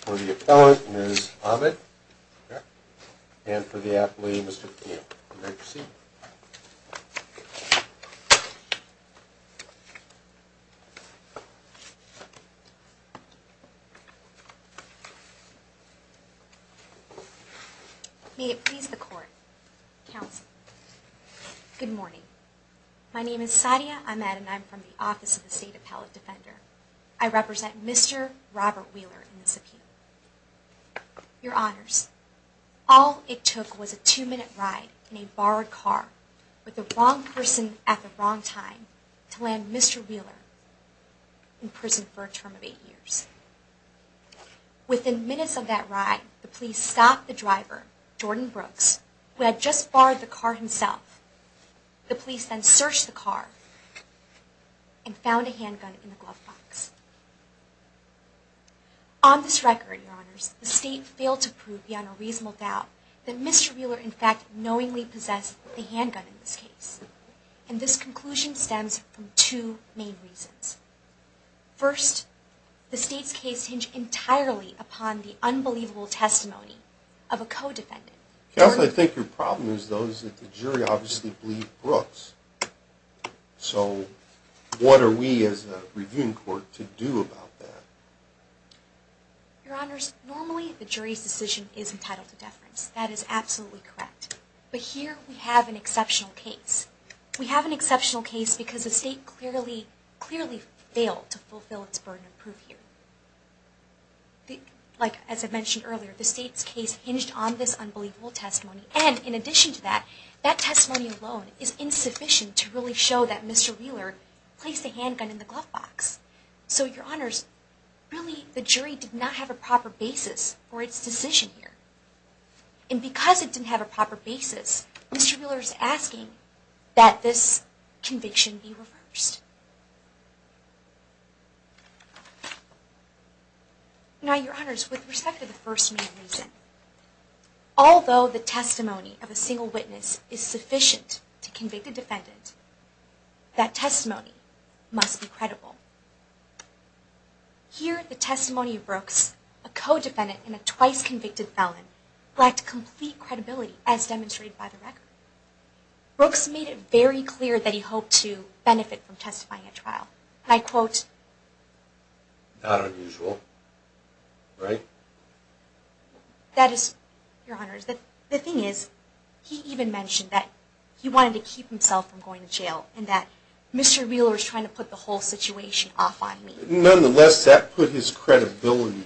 for the appellant, Ms. Ahmed, and for the athlete, Mr. Thiel. You may proceed. May it please the court, counsel. Good morning. My name is Sadia Ahmed, and I'm from the Office of the State Appellant Defender. I represent Mr. Robert Wheeler in this appeal. Your Honors, all it took was a two-minute ride in a borrowed car with the wrong person at the wrong time to land Mr. Wheeler in prison for a term of eight years. Within minutes of that ride, the police stopped the driver, Jordan Brooks, who had just borrowed the car himself. The police then searched the car and found a handgun in the glove box. On this record, Your Honors, the State failed to prove beyond a reasonable doubt that Mr. Wheeler in fact knowingly possessed the handgun in this case. And this conclusion stems from two main reasons. First, the State's case hinged entirely upon the unbelievable testimony of a co-defendant. Counsel, I think your problem is those that the jury obviously believe Brooks. So what are we as a reviewing court to do about that? Your Honors, normally the jury's decision is entitled to deference. That is absolutely correct. But here we have an exceptional case. We have an exceptional case because the State clearly failed to fulfill its burden of proof here. Like as I mentioned earlier, the State's case hinged on this unbelievable testimony. And in addition to that, that testimony alone is insufficient to really show that Mr. Wheeler placed a handgun in the glove box. So Your Honors, really the jury did not have a proper basis for its decision here. And because it didn't have a proper basis, Mr. Wheeler is asking that this conviction be reversed. Now, Your Honors, with respect to the first main reason, although the testimony of a single witness is sufficient to convict a defendant, that testimony must be credible. Here, the testimony of Brooks, a co-defendant and a twice convicted felon, lacked complete credibility as demonstrated by the record. Brooks made it very clear that he hoped to benefit from testifying at trial. And I quote, Not unusual, right? That is, Your Honors, the thing is, he even mentioned that he wanted to keep himself from going to jail and that Mr. Wheeler was trying to put the whole situation off on me. Nonetheless, that put his credibility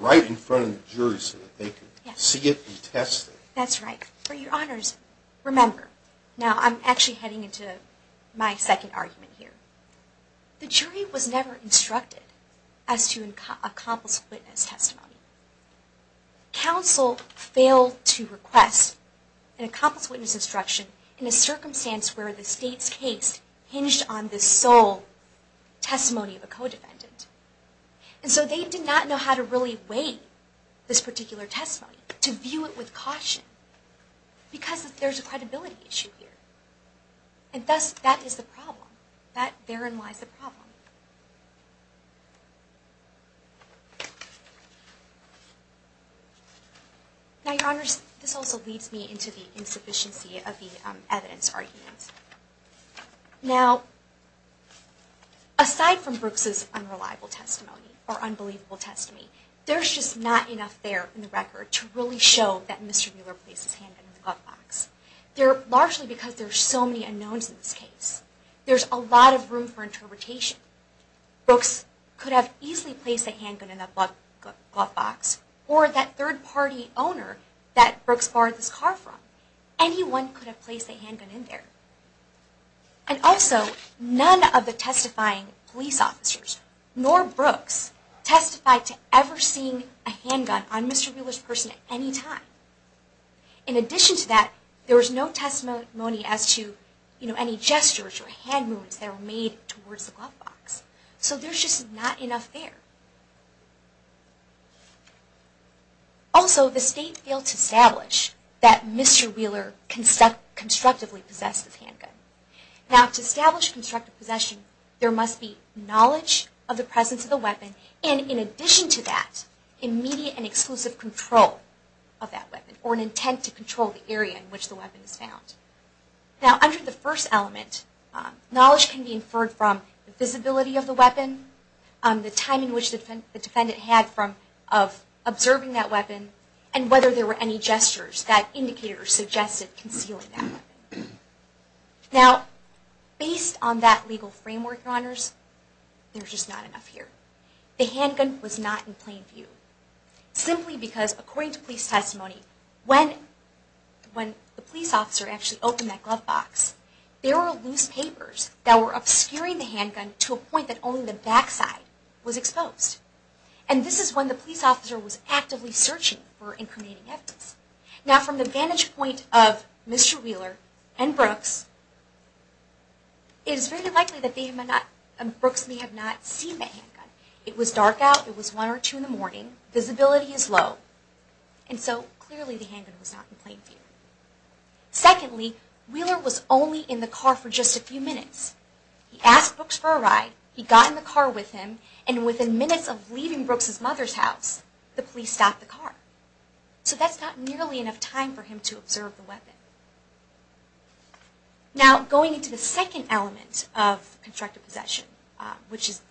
right in front of the jury so that they could see it and test it. That's right. For Your Honors, remember, now I'm actually heading into my second argument here. The jury was never instructed as to accomplish witness testimony. Counsel failed to request an accomplished witness instruction in a circumstance where the state's case hinged on the sole testimony of a co-defendant. And so they did not know how to really weigh this particular testimony, to view it with caution, because there's a credibility issue here. And thus, that is the problem. Therein lies the problem. Now, Your Honors, this also leads me into the insufficiency of the evidence arguments. Now, aside from Brooks' unreliable testimony, or unbelievable testimony, there's just not enough there in the record to really show that Mr. Wheeler placed his handgun in the glove box. Largely because there are so many unknowns in this case. There's a lot of room for interpretation. Brooks could have easily placed a handgun in that glove box, or that third-party owner that Brooks borrowed this car from. Anyone could have placed a handgun in there. And also, none of the testifying police officers, nor Brooks, testified to ever seeing a handgun on Mr. Wheeler's person at any time. In addition to that, there was no testimony as to any gestures or hand movements that were made towards the glove box. So there's just not enough there. Also, the State failed to establish that Mr. Wheeler constructively possessed a handgun. Now, to establish constructive possession, there must be knowledge of the presence of the weapon, and in addition to that, immediate and exclusive control of that weapon, or an intent to control the area in which the weapon is found. Now, under the first element, knowledge can be inferred from the visibility of the weapon, the timing which the defendant had of observing that weapon, and whether there were any gestures that indicator suggested concealing that weapon. Now, based on that legal framework, Your Honors, there's just not enough here. The handgun was not in plain view, simply because, according to police testimony, when the police officer actually opened that glove box, there were loose papers that were obscuring the handgun to a point that only the backside was exposed. And this is when the police officer was actively searching for incriminating evidence. Now, from the vantage point of Mr. Wheeler and Brooks, it is very likely that Brooks may have not seen the handgun. It was dark out, it was one or two in the morning, visibility is low, and so clearly the handgun was not in plain view. Secondly, Wheeler was only in the car for just a few minutes. He asked Brooks for a ride, he got in the car with him, and within minutes of leaving Brooks' mother's house, the police stopped the car. So that's not nearly enough time for him to observe the weapon. Now, going into the second element of constructive possession, which is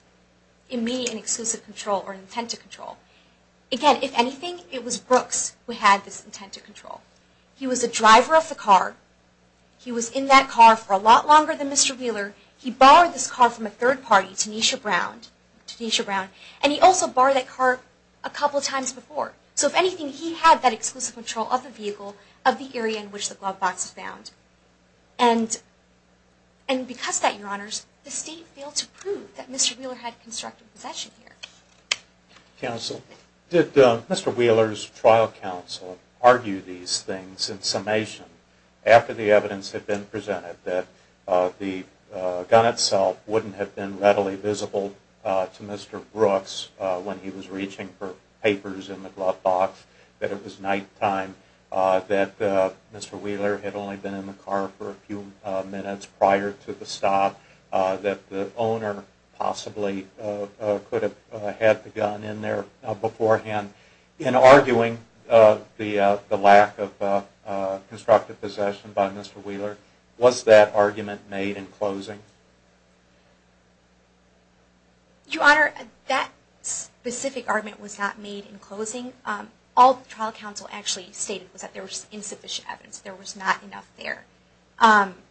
immediate and exclusive control or intent to control, again, if anything, it was Brooks who had this intent to control. He was the driver of the car, he was in that car for a lot longer than Mr. Wheeler, he borrowed this car from a third party, Tanisha Brown, and he also borrowed that car a couple of times before. So if anything, he had that exclusive control of the vehicle, of the area in which the glove box was found. And because of that, Your Honors, the State failed to prove that Mr. Wheeler had constructive possession here. Counsel, did Mr. Wheeler's trial counsel argue these things in summation after the evidence had been presented that the gun itself wouldn't have been readily visible to Mr. Brooks when he was reaching for papers in the glove box, that it was nighttime, that Mr. Wheeler had only been in the car for a few minutes prior to the stop, that the owner possibly could have had the gun in there beforehand? In arguing the lack of constructive possession by Mr. Wheeler, was that argument made in closing? Your Honor, that specific argument was not made in closing. All the trial counsel actually stated was that there was insufficient evidence. There was not enough there. I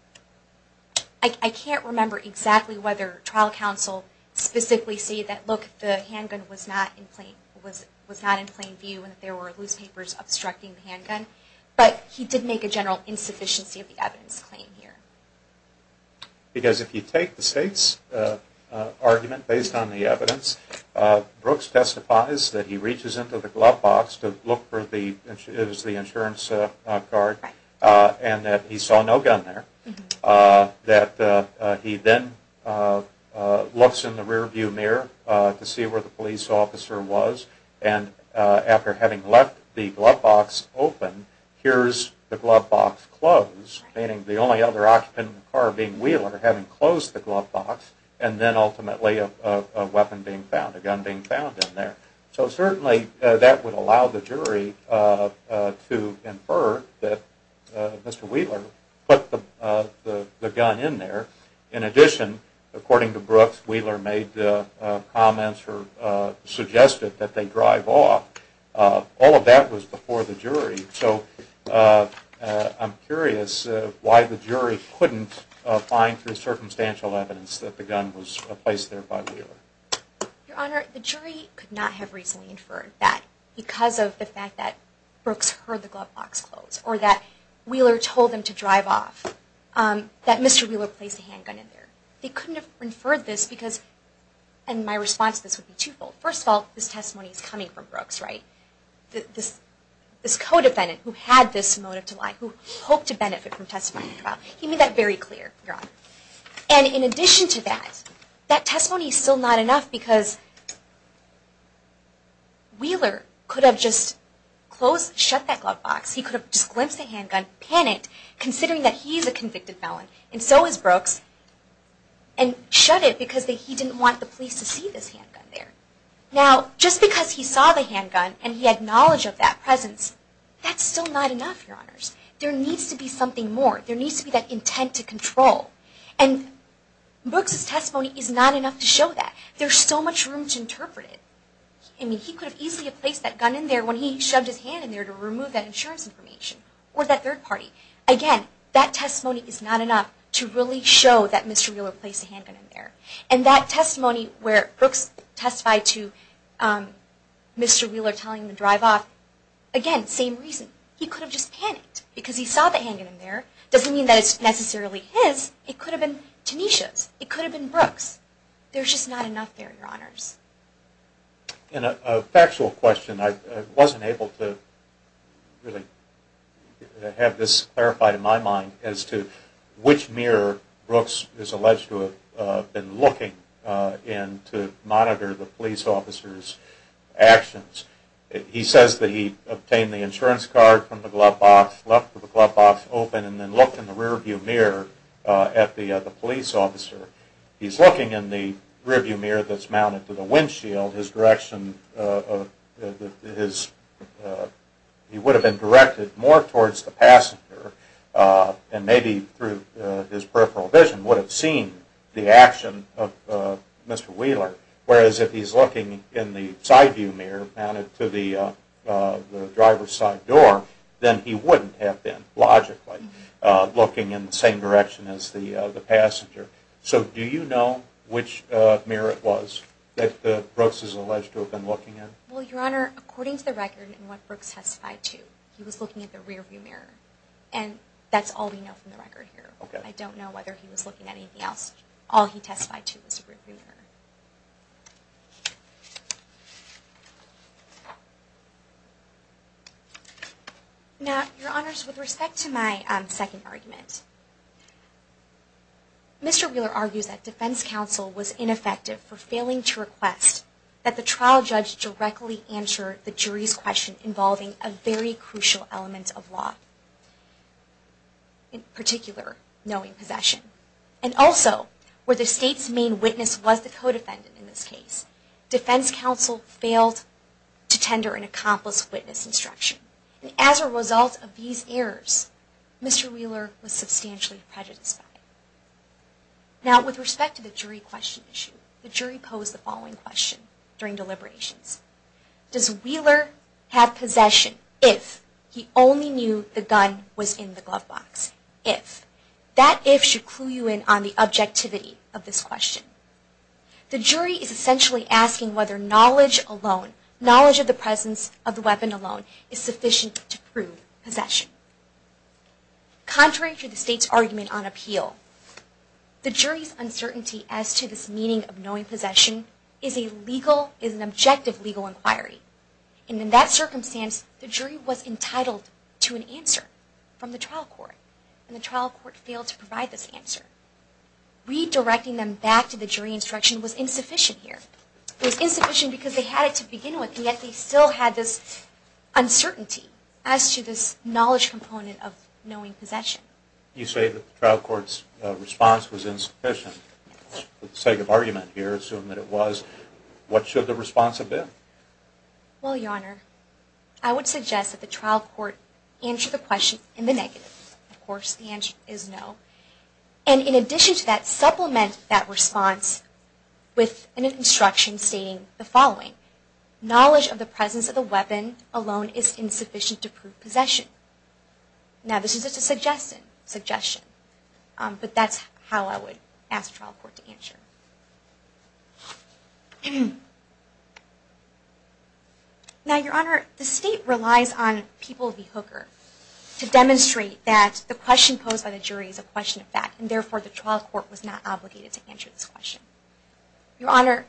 can't remember exactly whether trial counsel specifically stated that, look, the handgun was not in plain view and that there were loose papers obstructing the handgun, but he did make a general insufficiency of the evidence claim here. Because if you take the State's argument based on the evidence, Brooks testifies that he reaches into the glove box to look for the insurance card and that he saw no gun there. That he then looks in the rear view mirror to see where the police officer was and after having left the glove box open, hears the glove box close, meaning the only other occupant in the car being Wheeler having closed the glove box and then ultimately a weapon being found, a gun being found in there. So certainly that would allow the jury to infer that Mr. Wheeler put the gun in there. In addition, according to Brooks, Wheeler made comments or suggested that they drive off. So I'm curious why the jury couldn't find through circumstantial evidence that the gun was placed there by Wheeler. Your Honor, the jury could not have reasonably inferred that because of the fact that Brooks heard the glove box close or that Wheeler told them to drive off, that Mr. Wheeler placed the handgun in there. They couldn't have inferred this because, and my response to this would be twofold. First of all, this testimony is coming from Brooks, right? This co-defendant who had this motive to lie, who hoped to benefit from testifying to the trial. He made that very clear, Your Honor. And in addition to that, that testimony is still not enough because Wheeler could have just closed, shut that glove box. He could have just glimpsed the handgun, panicked, considering that he's a convicted felon, and so is Brooks, and shut it because he didn't want the police to see this handgun there. Now, just because he saw the handgun and he had knowledge of that presence, that's still not enough, Your Honors. There needs to be something more. There needs to be that intent to control. And Brooks' testimony is not enough to show that. There's so much room to interpret it. I mean, he could have easily placed that gun in there when he shoved his hand in there to remove that insurance information or that third party. Again, that testimony is not enough to really show that Mr. Wheeler placed the handgun in there. And that testimony where Brooks testified to Mr. Wheeler telling him to drive off, again, same reason. He could have just panicked because he saw the handgun there. It doesn't mean that it's necessarily his. It could have been Tanisha's. It could have been Brooks'. There's just not enough there, Your Honors. And a factual question. I wasn't able to really have this clarified in my mind as to which mirror Brooks is alleged to have been looking in to monitor the police officer's actions. He says that he obtained the insurance card from the glove box, left the glove box open, and then looked in the rearview mirror at the police officer. He's looking in the rearview mirror that's mounted to the windshield. His direction, he would have been directed more towards the passenger and maybe through his peripheral vision would have seen the action of Mr. Wheeler. Whereas if he's looking in the sideview mirror mounted to the driver's side door, then he wouldn't have been, logically, looking in the same direction as the passenger. So do you know which mirror it was that Brooks is alleged to have been looking in? Well, Your Honor, according to the record and what Brooks testified to, he was looking at the rearview mirror. And that's all we know from the record here. I don't know whether he was looking at anything else. All he testified to was the rearview mirror. Now, Your Honors, with respect to my second argument, Mr. Wheeler argues that defense counsel was ineffective for failing to request that the trial judge directly answer the jury's question involving a very crucial element of law, in particular, knowing possession. And also, where the state's main witness was the codefendant in this case, defense counsel failed to tender an accomplice witness instruction. And as a result of these errors, Mr. Wheeler was substantially prejudiced by it. Now, with respect to the jury question issue, the jury posed the following question during deliberations. Does Wheeler have possession if he only knew the gun was in the glove box? If. That if should clue you in on the objectivity of this question. The jury is essentially asking whether knowledge alone, is sufficient to prove possession. Contrary to the state's argument on appeal, the jury's uncertainty as to this meaning of knowing possession is an objective legal inquiry. And in that circumstance, the jury was entitled to an answer from the trial court. And the trial court failed to provide this answer. Redirecting them back to the jury instruction was insufficient here. It was insufficient because they had it to begin with, and yet they still had this uncertainty as to this knowledge component of knowing possession. You say that the trial court's response was insufficient. With the sake of argument here, assume that it was. What should the response have been? Well, Your Honor, I would suggest that the trial court answer the question in the negative. Of course, the answer is no. And in addition to that, supplement that response with an instruction stating the following. Knowledge of the presence of the weapon alone is insufficient to prove possession. Now, this is just a suggestion. But that's how I would ask the trial court to answer. Now, Your Honor, the state relies on people of the hooker to demonstrate that the question posed by the jury is a question of fact. And therefore, the trial court was not obligated to answer this question. Your Honor,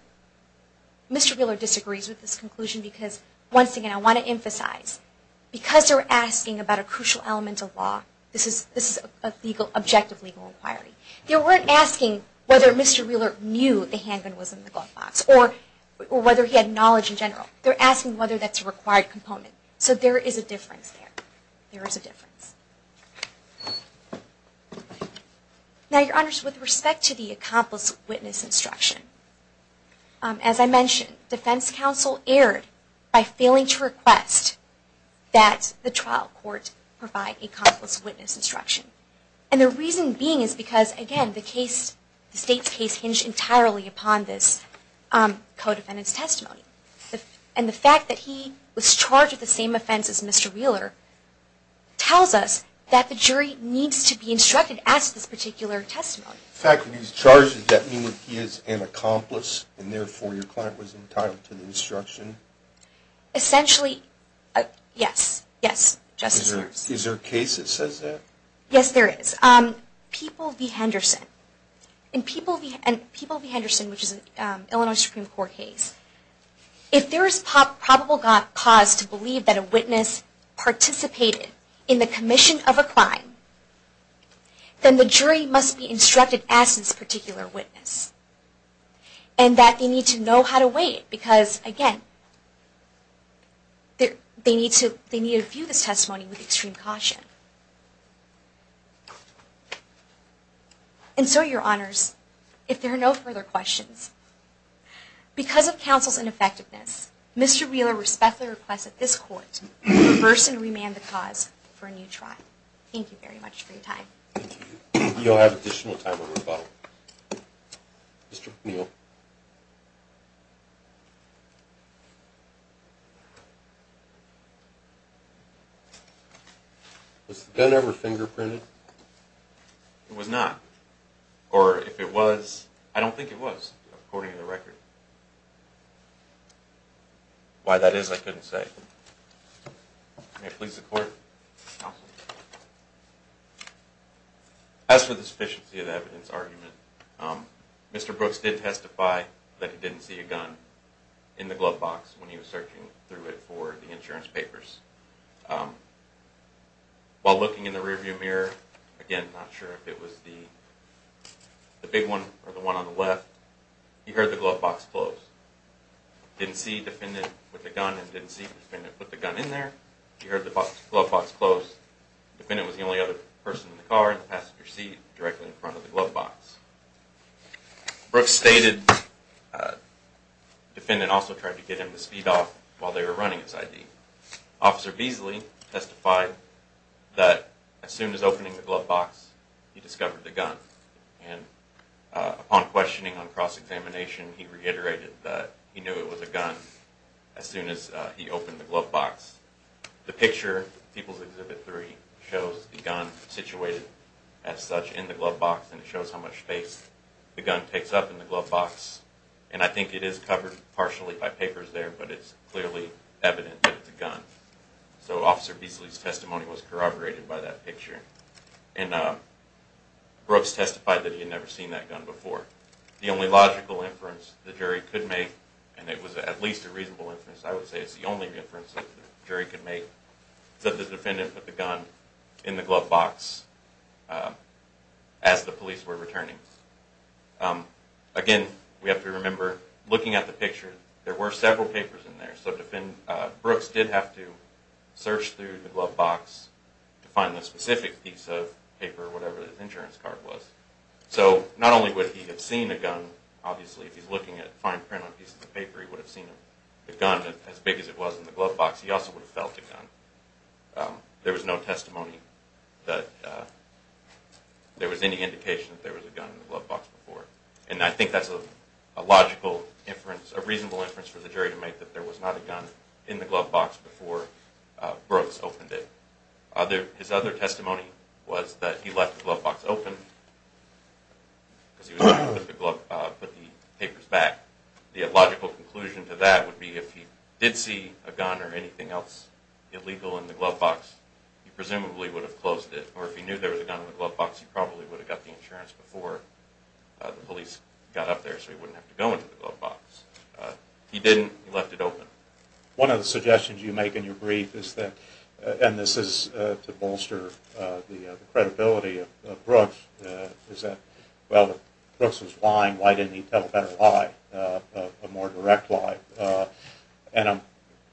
Mr. Wheeler disagrees with this conclusion because, once again, I want to emphasize, because they're asking about a crucial element of law, this is an objective legal inquiry. They weren't asking whether Mr. Wheeler knew the handgun was in the glove box or whether he had knowledge in general. They're asking whether that's a required component. So there is a difference there. There is a difference. Now, Your Honor, with respect to the accomplice witness instruction, as I mentioned, defense counsel erred by failing to request that the trial court provide a accomplice witness instruction. And the reason being is because, again, the state's case hinged entirely upon this and the fact that he was charged with the same offense as Mr. Wheeler tells us that the jury needs to be instructed as to this particular testimony. In fact, when he's charged, does that mean that he is an accomplice and therefore your client was entitled to the instruction? Essentially, yes. Yes. Is there a case that says that? Yes, there is. People v. Henderson. In People v. Henderson, which is an Illinois Supreme Court case, if there is probable cause to believe that a witness participated in the commission of a crime, then the jury must be instructed as to this particular witness and that they need to know how to weigh it. Because, again, they need to view this testimony with extreme caution. And so, Your Honors, if there are no further questions, because of counsel's ineffectiveness, Mr. Wheeler respectfully requests that this Court reverse and remand the cause for a new trial. Thank you very much for your time. Thank you. You'll have additional time for rebuttal. Was the gun ever fingerprinted? It was not. Or if it was? I don't think it was, according to the record. Why that is, I couldn't say. May it please the Court? Counsel. As for the sufficiency of the evidence argument, Mr. Brooks did testify that he didn't see a gun in the glove box when he was searching through it for the insurance papers. While looking in the rearview mirror, again, not sure if it was the big one or the one on the left, he heard the glove box close. Didn't see defendant with the gun and didn't see defendant with the gun in there. He heard the glove box close. Defendant was the only other person in the car in the passenger seat directly in front of the glove box. Brooks stated defendant also tried to get him to speed off while they were running his ID. Officer Beasley testified that as soon as opening the glove box, he discovered the gun. And upon questioning on cross-examination, he reiterated that he knew it was a gun as soon as he opened the glove box. The picture, People's Exhibit 3, shows the gun situated as such in the glove box, and it shows how much space the gun takes up in the glove box. And I think it is covered partially by papers there, but it's clearly evident that it's a gun. So Officer Beasley's testimony was corroborated by that picture. And Brooks testified that he had never seen that gun before. The only logical inference the jury could make, and it was at least a reasonable inference, I would say it's the only inference the jury could make, is that the defendant put the gun in the glove box as the police were returning. Again, we have to remember, looking at the picture, there were several papers in there. So Brooks did have to search through the glove box to find the specific piece of paper, whatever his insurance card was. So not only would he have seen a gun, obviously, if he's looking at fine print on pieces of paper, he would have seen the gun as big as it was in the glove box. He also would have felt a gun. There was no testimony that there was any indication that there was a gun in the glove box before. And I think that's a logical inference, a reasonable inference for the jury to make, that there was not a gun in the glove box before Brooks opened it. His other testimony was that he left the glove box open because he was going to put the papers back. The illogical conclusion to that would be if he did see a gun or anything else illegal in the glove box, he presumably would have closed it. Or if he knew there was a gun in the glove box, he probably would have got the insurance before the police got up there so he wouldn't have to go into the glove box. He didn't. He left it open. One of the suggestions you make in your brief is that, and this is to bolster the credibility of Brooks, is that, well, if Brooks was lying, why didn't he tell a better lie, a more direct lie? And I'm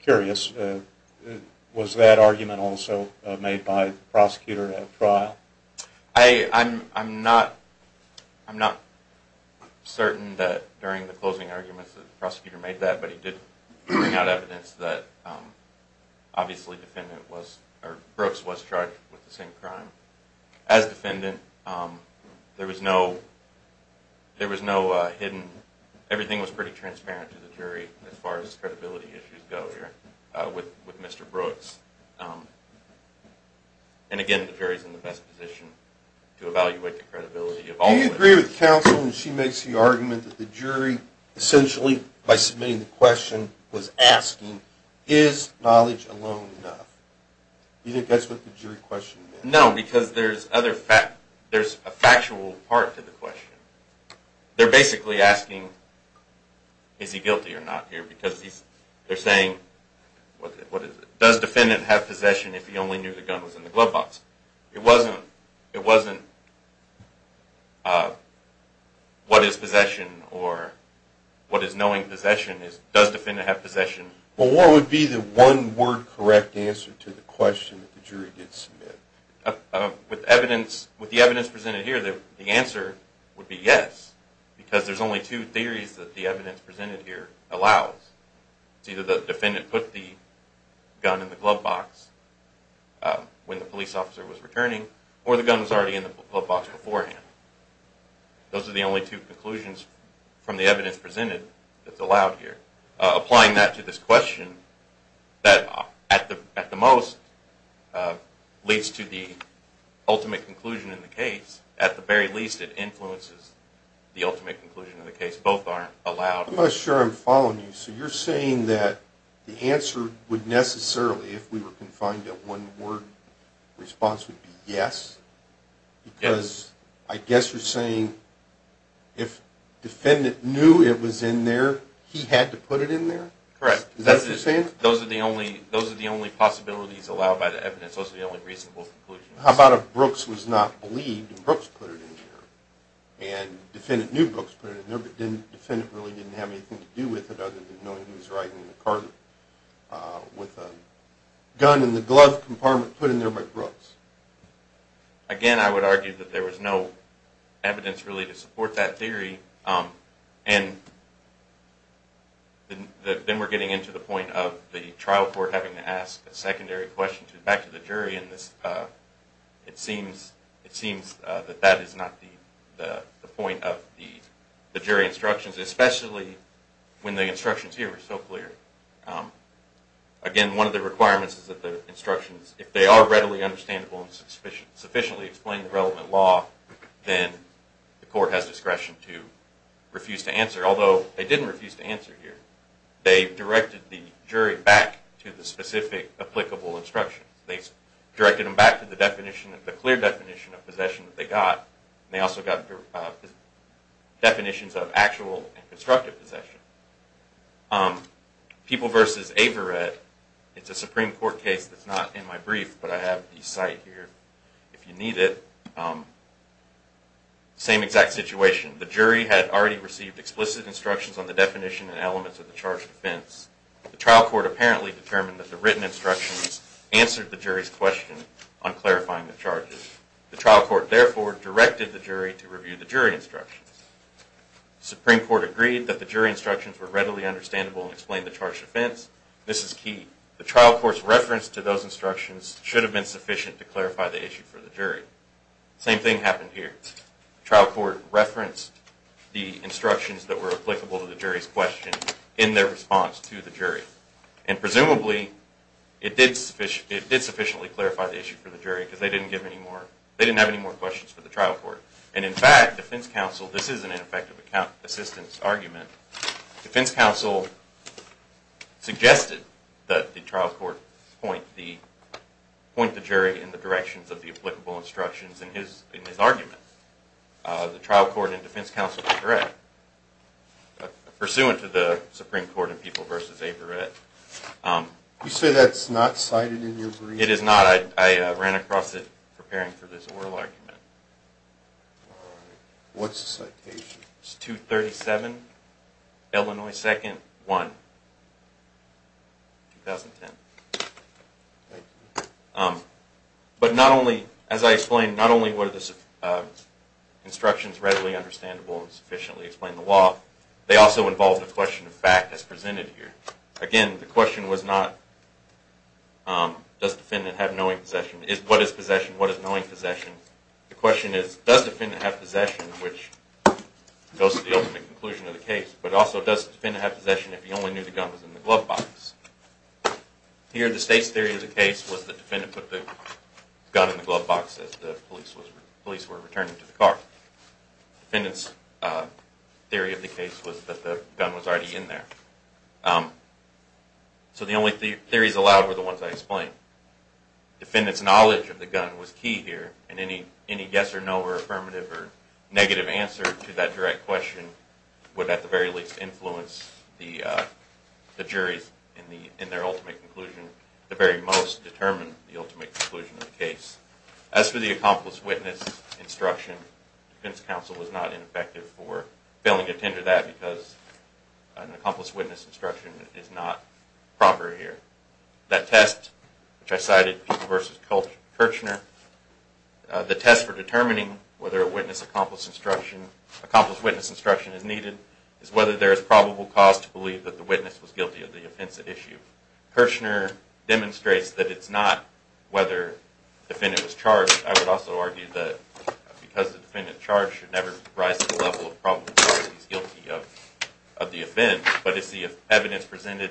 curious, was that argument also made by the prosecutor at trial? I'm not certain that during the closing arguments that the prosecutor made that, but he did bring out evidence that obviously Brooks was charged with the same crime. As defendant, there was no hidden, everything was pretty transparent to the jury as far as credibility issues go here with Mr. Brooks. And again, the jury is in the best position to evaluate the credibility of all witnesses. Do you agree with counsel when she makes the argument that the jury, essentially by submitting the question, was asking, is knowledge alone enough? Do you think that's what the jury question meant? No, because there's a factual part to the question. They're basically asking, is he guilty or not here, because they're saying, does defendant have possession if he only knew the gun was in the glove box? It wasn't what is possession or what is knowing possession, it's does defendant have possession. Well, what would be the one word correct answer to the question that the jury did submit? With the evidence presented here, the answer would be yes, because there's only two theories that the evidence presented here allows. It's either the defendant put the gun in the glove box when the police officer was returning, or the gun was already in the glove box beforehand. Those are the only two conclusions from the evidence presented that's allowed here. Applying that to this question that at the most leads to the ultimate conclusion in the case, at the very least it influences the ultimate conclusion in the case. Both aren't allowed. I'm not sure I'm following you. So you're saying that the answer would necessarily, if we were confined to one word, response would be yes? Yes. Because I guess you're saying if defendant knew it was in there, he had to put it in there? Correct. Is that what you're saying? Those are the only possibilities allowed by the evidence. Those are the only reasonable conclusions. How about if Brooks was not believed and Brooks put it in there, and the defendant knew Brooks put it in there, but the defendant really didn't have anything to do with it other than knowing he was writing in a card with a gun in the glove compartment put in there by Brooks? Again, I would argue that there was no evidence really to support that theory. Then we're getting into the point of the trial court having to ask a secondary question back to the jury and it seems that that is not the point of the jury instructions, especially when the instructions here are so clear. Again, one of the requirements is that the instructions, if they are readily understandable and sufficiently explain the relevant law, then the court has discretion to refuse to answer, although they didn't refuse to answer here. They directed the jury back to the specific applicable instructions. They directed them back to the clear definition of possession that they got. They also got definitions of actual and constructive possession. People v. Averett, it's a Supreme Court case that's not in my brief, but I have the site here if you need it. Same exact situation. The jury had already received explicit instructions on the definition and elements of the charge of offense. The trial court apparently determined that the written instructions answered the jury's question on clarifying the charges. The trial court therefore directed the jury to review the jury instructions. The Supreme Court agreed that the jury instructions were readily understandable and explained the charge of offense. This is key. The trial court's reference to those instructions should have been sufficient to clarify the issue for the jury. Same thing happened here. The trial court referenced the instructions that were applicable to the jury's question in their response to the jury. And presumably, it did sufficiently clarify the issue for the jury because they didn't have any more questions for the trial court. And in fact, defense counsel, this is an ineffective account assistance argument, defense counsel suggested that the trial court point the jury in the directions of the applicable instructions in his argument. The trial court and defense counsel were correct. Pursuant to the Supreme Court in People v. Averett. You say that's not cited in your brief? It is not. I ran across it preparing for this oral argument. What's the citation? It's 237, Illinois 2nd, 1, 2010. But not only, as I explained, not only were the instructions readily understandable and sufficiently explained in the law, they also involved a question of fact as presented here. Again, the question was not does the defendant have knowing possession, what is possession, what is knowing possession? The question is does the defendant have possession, which goes to the ultimate conclusion of the case, but also does the defendant have possession if he only knew the gun was in the glove box? Here the state's theory of the case was that the defendant put the gun in the glove box as the police were returning to the car. The defendant's theory of the case was that the gun was already in there. So the only theories allowed were the ones I explained. The defendant's knowledge of the gun was key here, and any yes or no or affirmative or negative answer to that direct question would at the very least influence the jury in their ultimate conclusion, at the very most determine the ultimate conclusion of the case. As for the accomplice witness instruction, defense counsel was not ineffective for failing to tender that because an accomplice witness instruction is not proper here. That test, which I cited, People v. Kirchner, the test for determining whether an accomplice witness instruction is needed is whether there is probable cause to believe that the witness was guilty of the offensive issue. Kirchner demonstrates that it's not whether the defendant was charged. I would also argue that because the defendant charged should never rise to the level of probable cause that he's guilty of the offense, but it's the evidence presented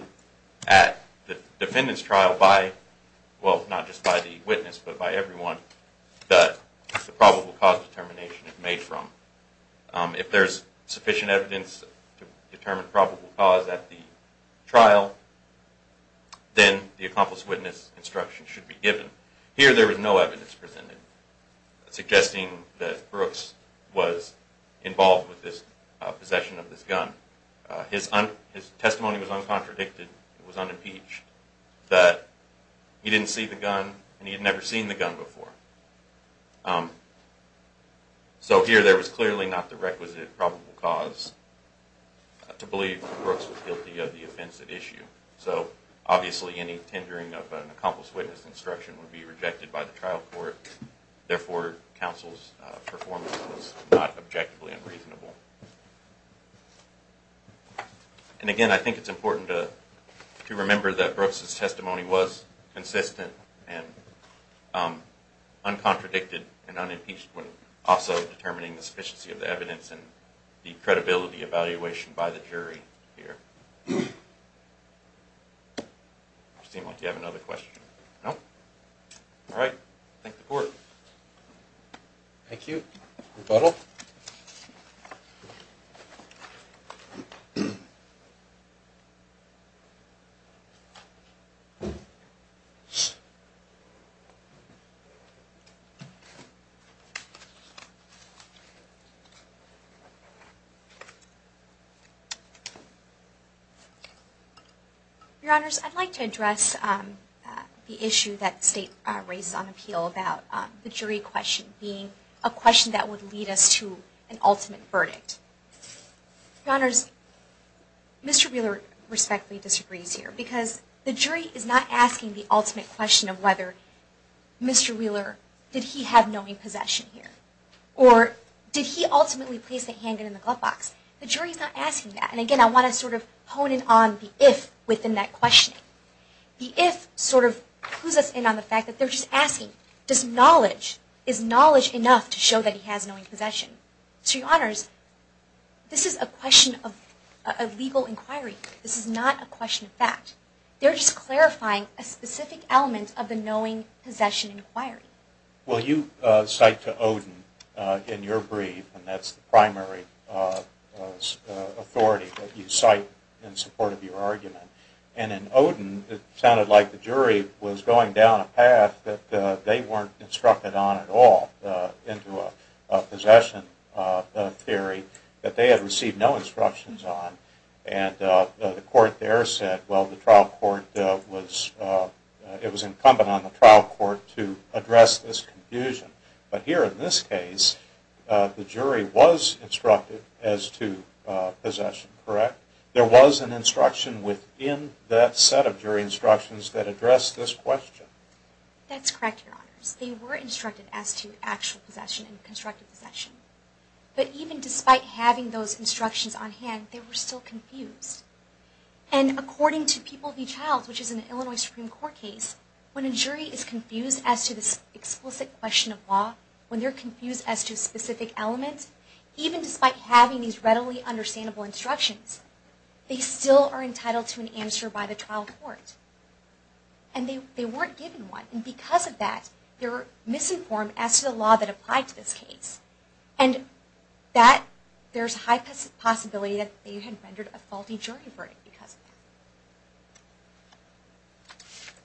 at the defendant's trial by, well, not just by the witness, but by everyone, that the probable cause determination is made from. If there's sufficient evidence to determine probable cause at the trial, then the accomplice witness instruction should be given. Here there was no evidence presented suggesting that Brooks was involved with this possession of this gun. His testimony was uncontradicted, it was unimpeached, that he didn't see the gun and he had never seen the gun before. So here there was clearly not the requisite probable cause to believe that Brooks was guilty of the offensive issue. So obviously any tendering of an accomplice witness instruction would be rejected by the trial court. Therefore, counsel's performance was not objectively unreasonable. And again, I think it's important to remember that Brooks' testimony was consistent and uncontradicted and unimpeached when also determining the sufficiency of the evidence and the credibility evaluation by the jury here. It seems like you have another question. No? All right. Thank the court. Thank you. Rebuttal. Your Honors, I'd like to address the issue that State raised on appeal about the jury question being a question that would lead us to an ultimate verdict. Your Honors, Mr. Wheeler respectfully disagrees here because the jury is not asking the ultimate question of whether Mr. Wheeler, did he have knowing possession here? Or did he ultimately place the handgun in the glove box? The jury's not asking that. And again, I want to sort of hone in on the if within that question. The if sort of clues us in on the fact that they're just asking, does knowledge, is knowledge enough to show that he has knowing possession? Your Honors, this is a question of legal inquiry. This is not a question of fact. They're just clarifying a specific element of the knowing possession inquiry. Well, you cite to Oden in your brief, and that's the primary authority that you cite in support of your argument. And in Oden, it sounded like the jury was going down a path that they weren't instructed on at all into a possession theory that they had received no instructions on. And the court there said, well, the trial court was, it was incumbent on the trial court to address this confusion. But here in this case, the jury was instructed as to possession, correct? There was an instruction within that set of jury instructions that addressed this question. That's correct, Your Honors. They were instructed as to actual possession and constructive possession. But even despite having those instructions on hand, they were still confused. And according to People v. Childs, which is an Illinois Supreme Court case, when a jury is confused as to this explicit question of law, when they're confused as to specific elements, even despite having these readily understandable instructions, they still are entitled to an answer by the trial court. And they weren't given one. And because of that, they were misinformed as to the law that applied to this case. And that, there's a high possibility that they had rendered a faulty jury verdict because of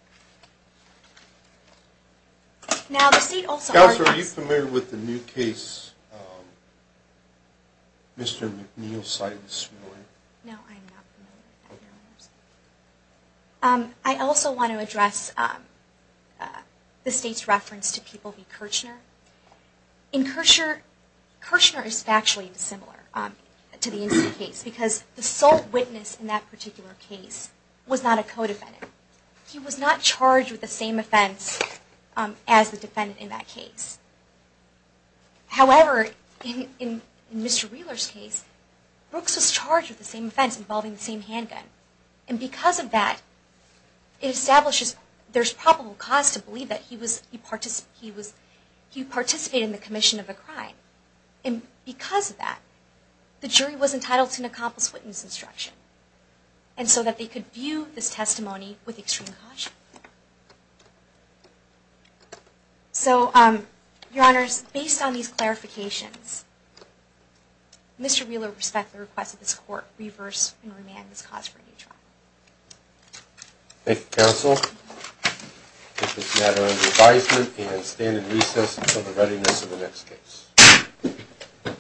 that. Now, the state also argues – Counselor, are you familiar with the new case Mr. McNeil cited this morning? No, I'm not familiar with that, Your Honors. I also want to address the state's reference to People v. Kirchner. In Kirchner, Kirchner is factually dissimilar to the Inslee case because the sole witness in that particular case was not a co-defendant. He was not charged with the same offense as the defendant in that case. However, in Mr. Wheeler's case, Brooks was charged with the same offense involving the same handgun. And because of that, it establishes there's probable cause to believe that he participated in the commission of a crime. And because of that, the jury was entitled to an accomplished witness instruction and so that they could view this testimony with extreme caution. So, Your Honors, based on these clarifications, Mr. Wheeler respects the request of this Court to reverse and remand this cause for a new trial. Thank you, Counsel. We'll take this matter under advisement and stand in recess until the readiness of the next case.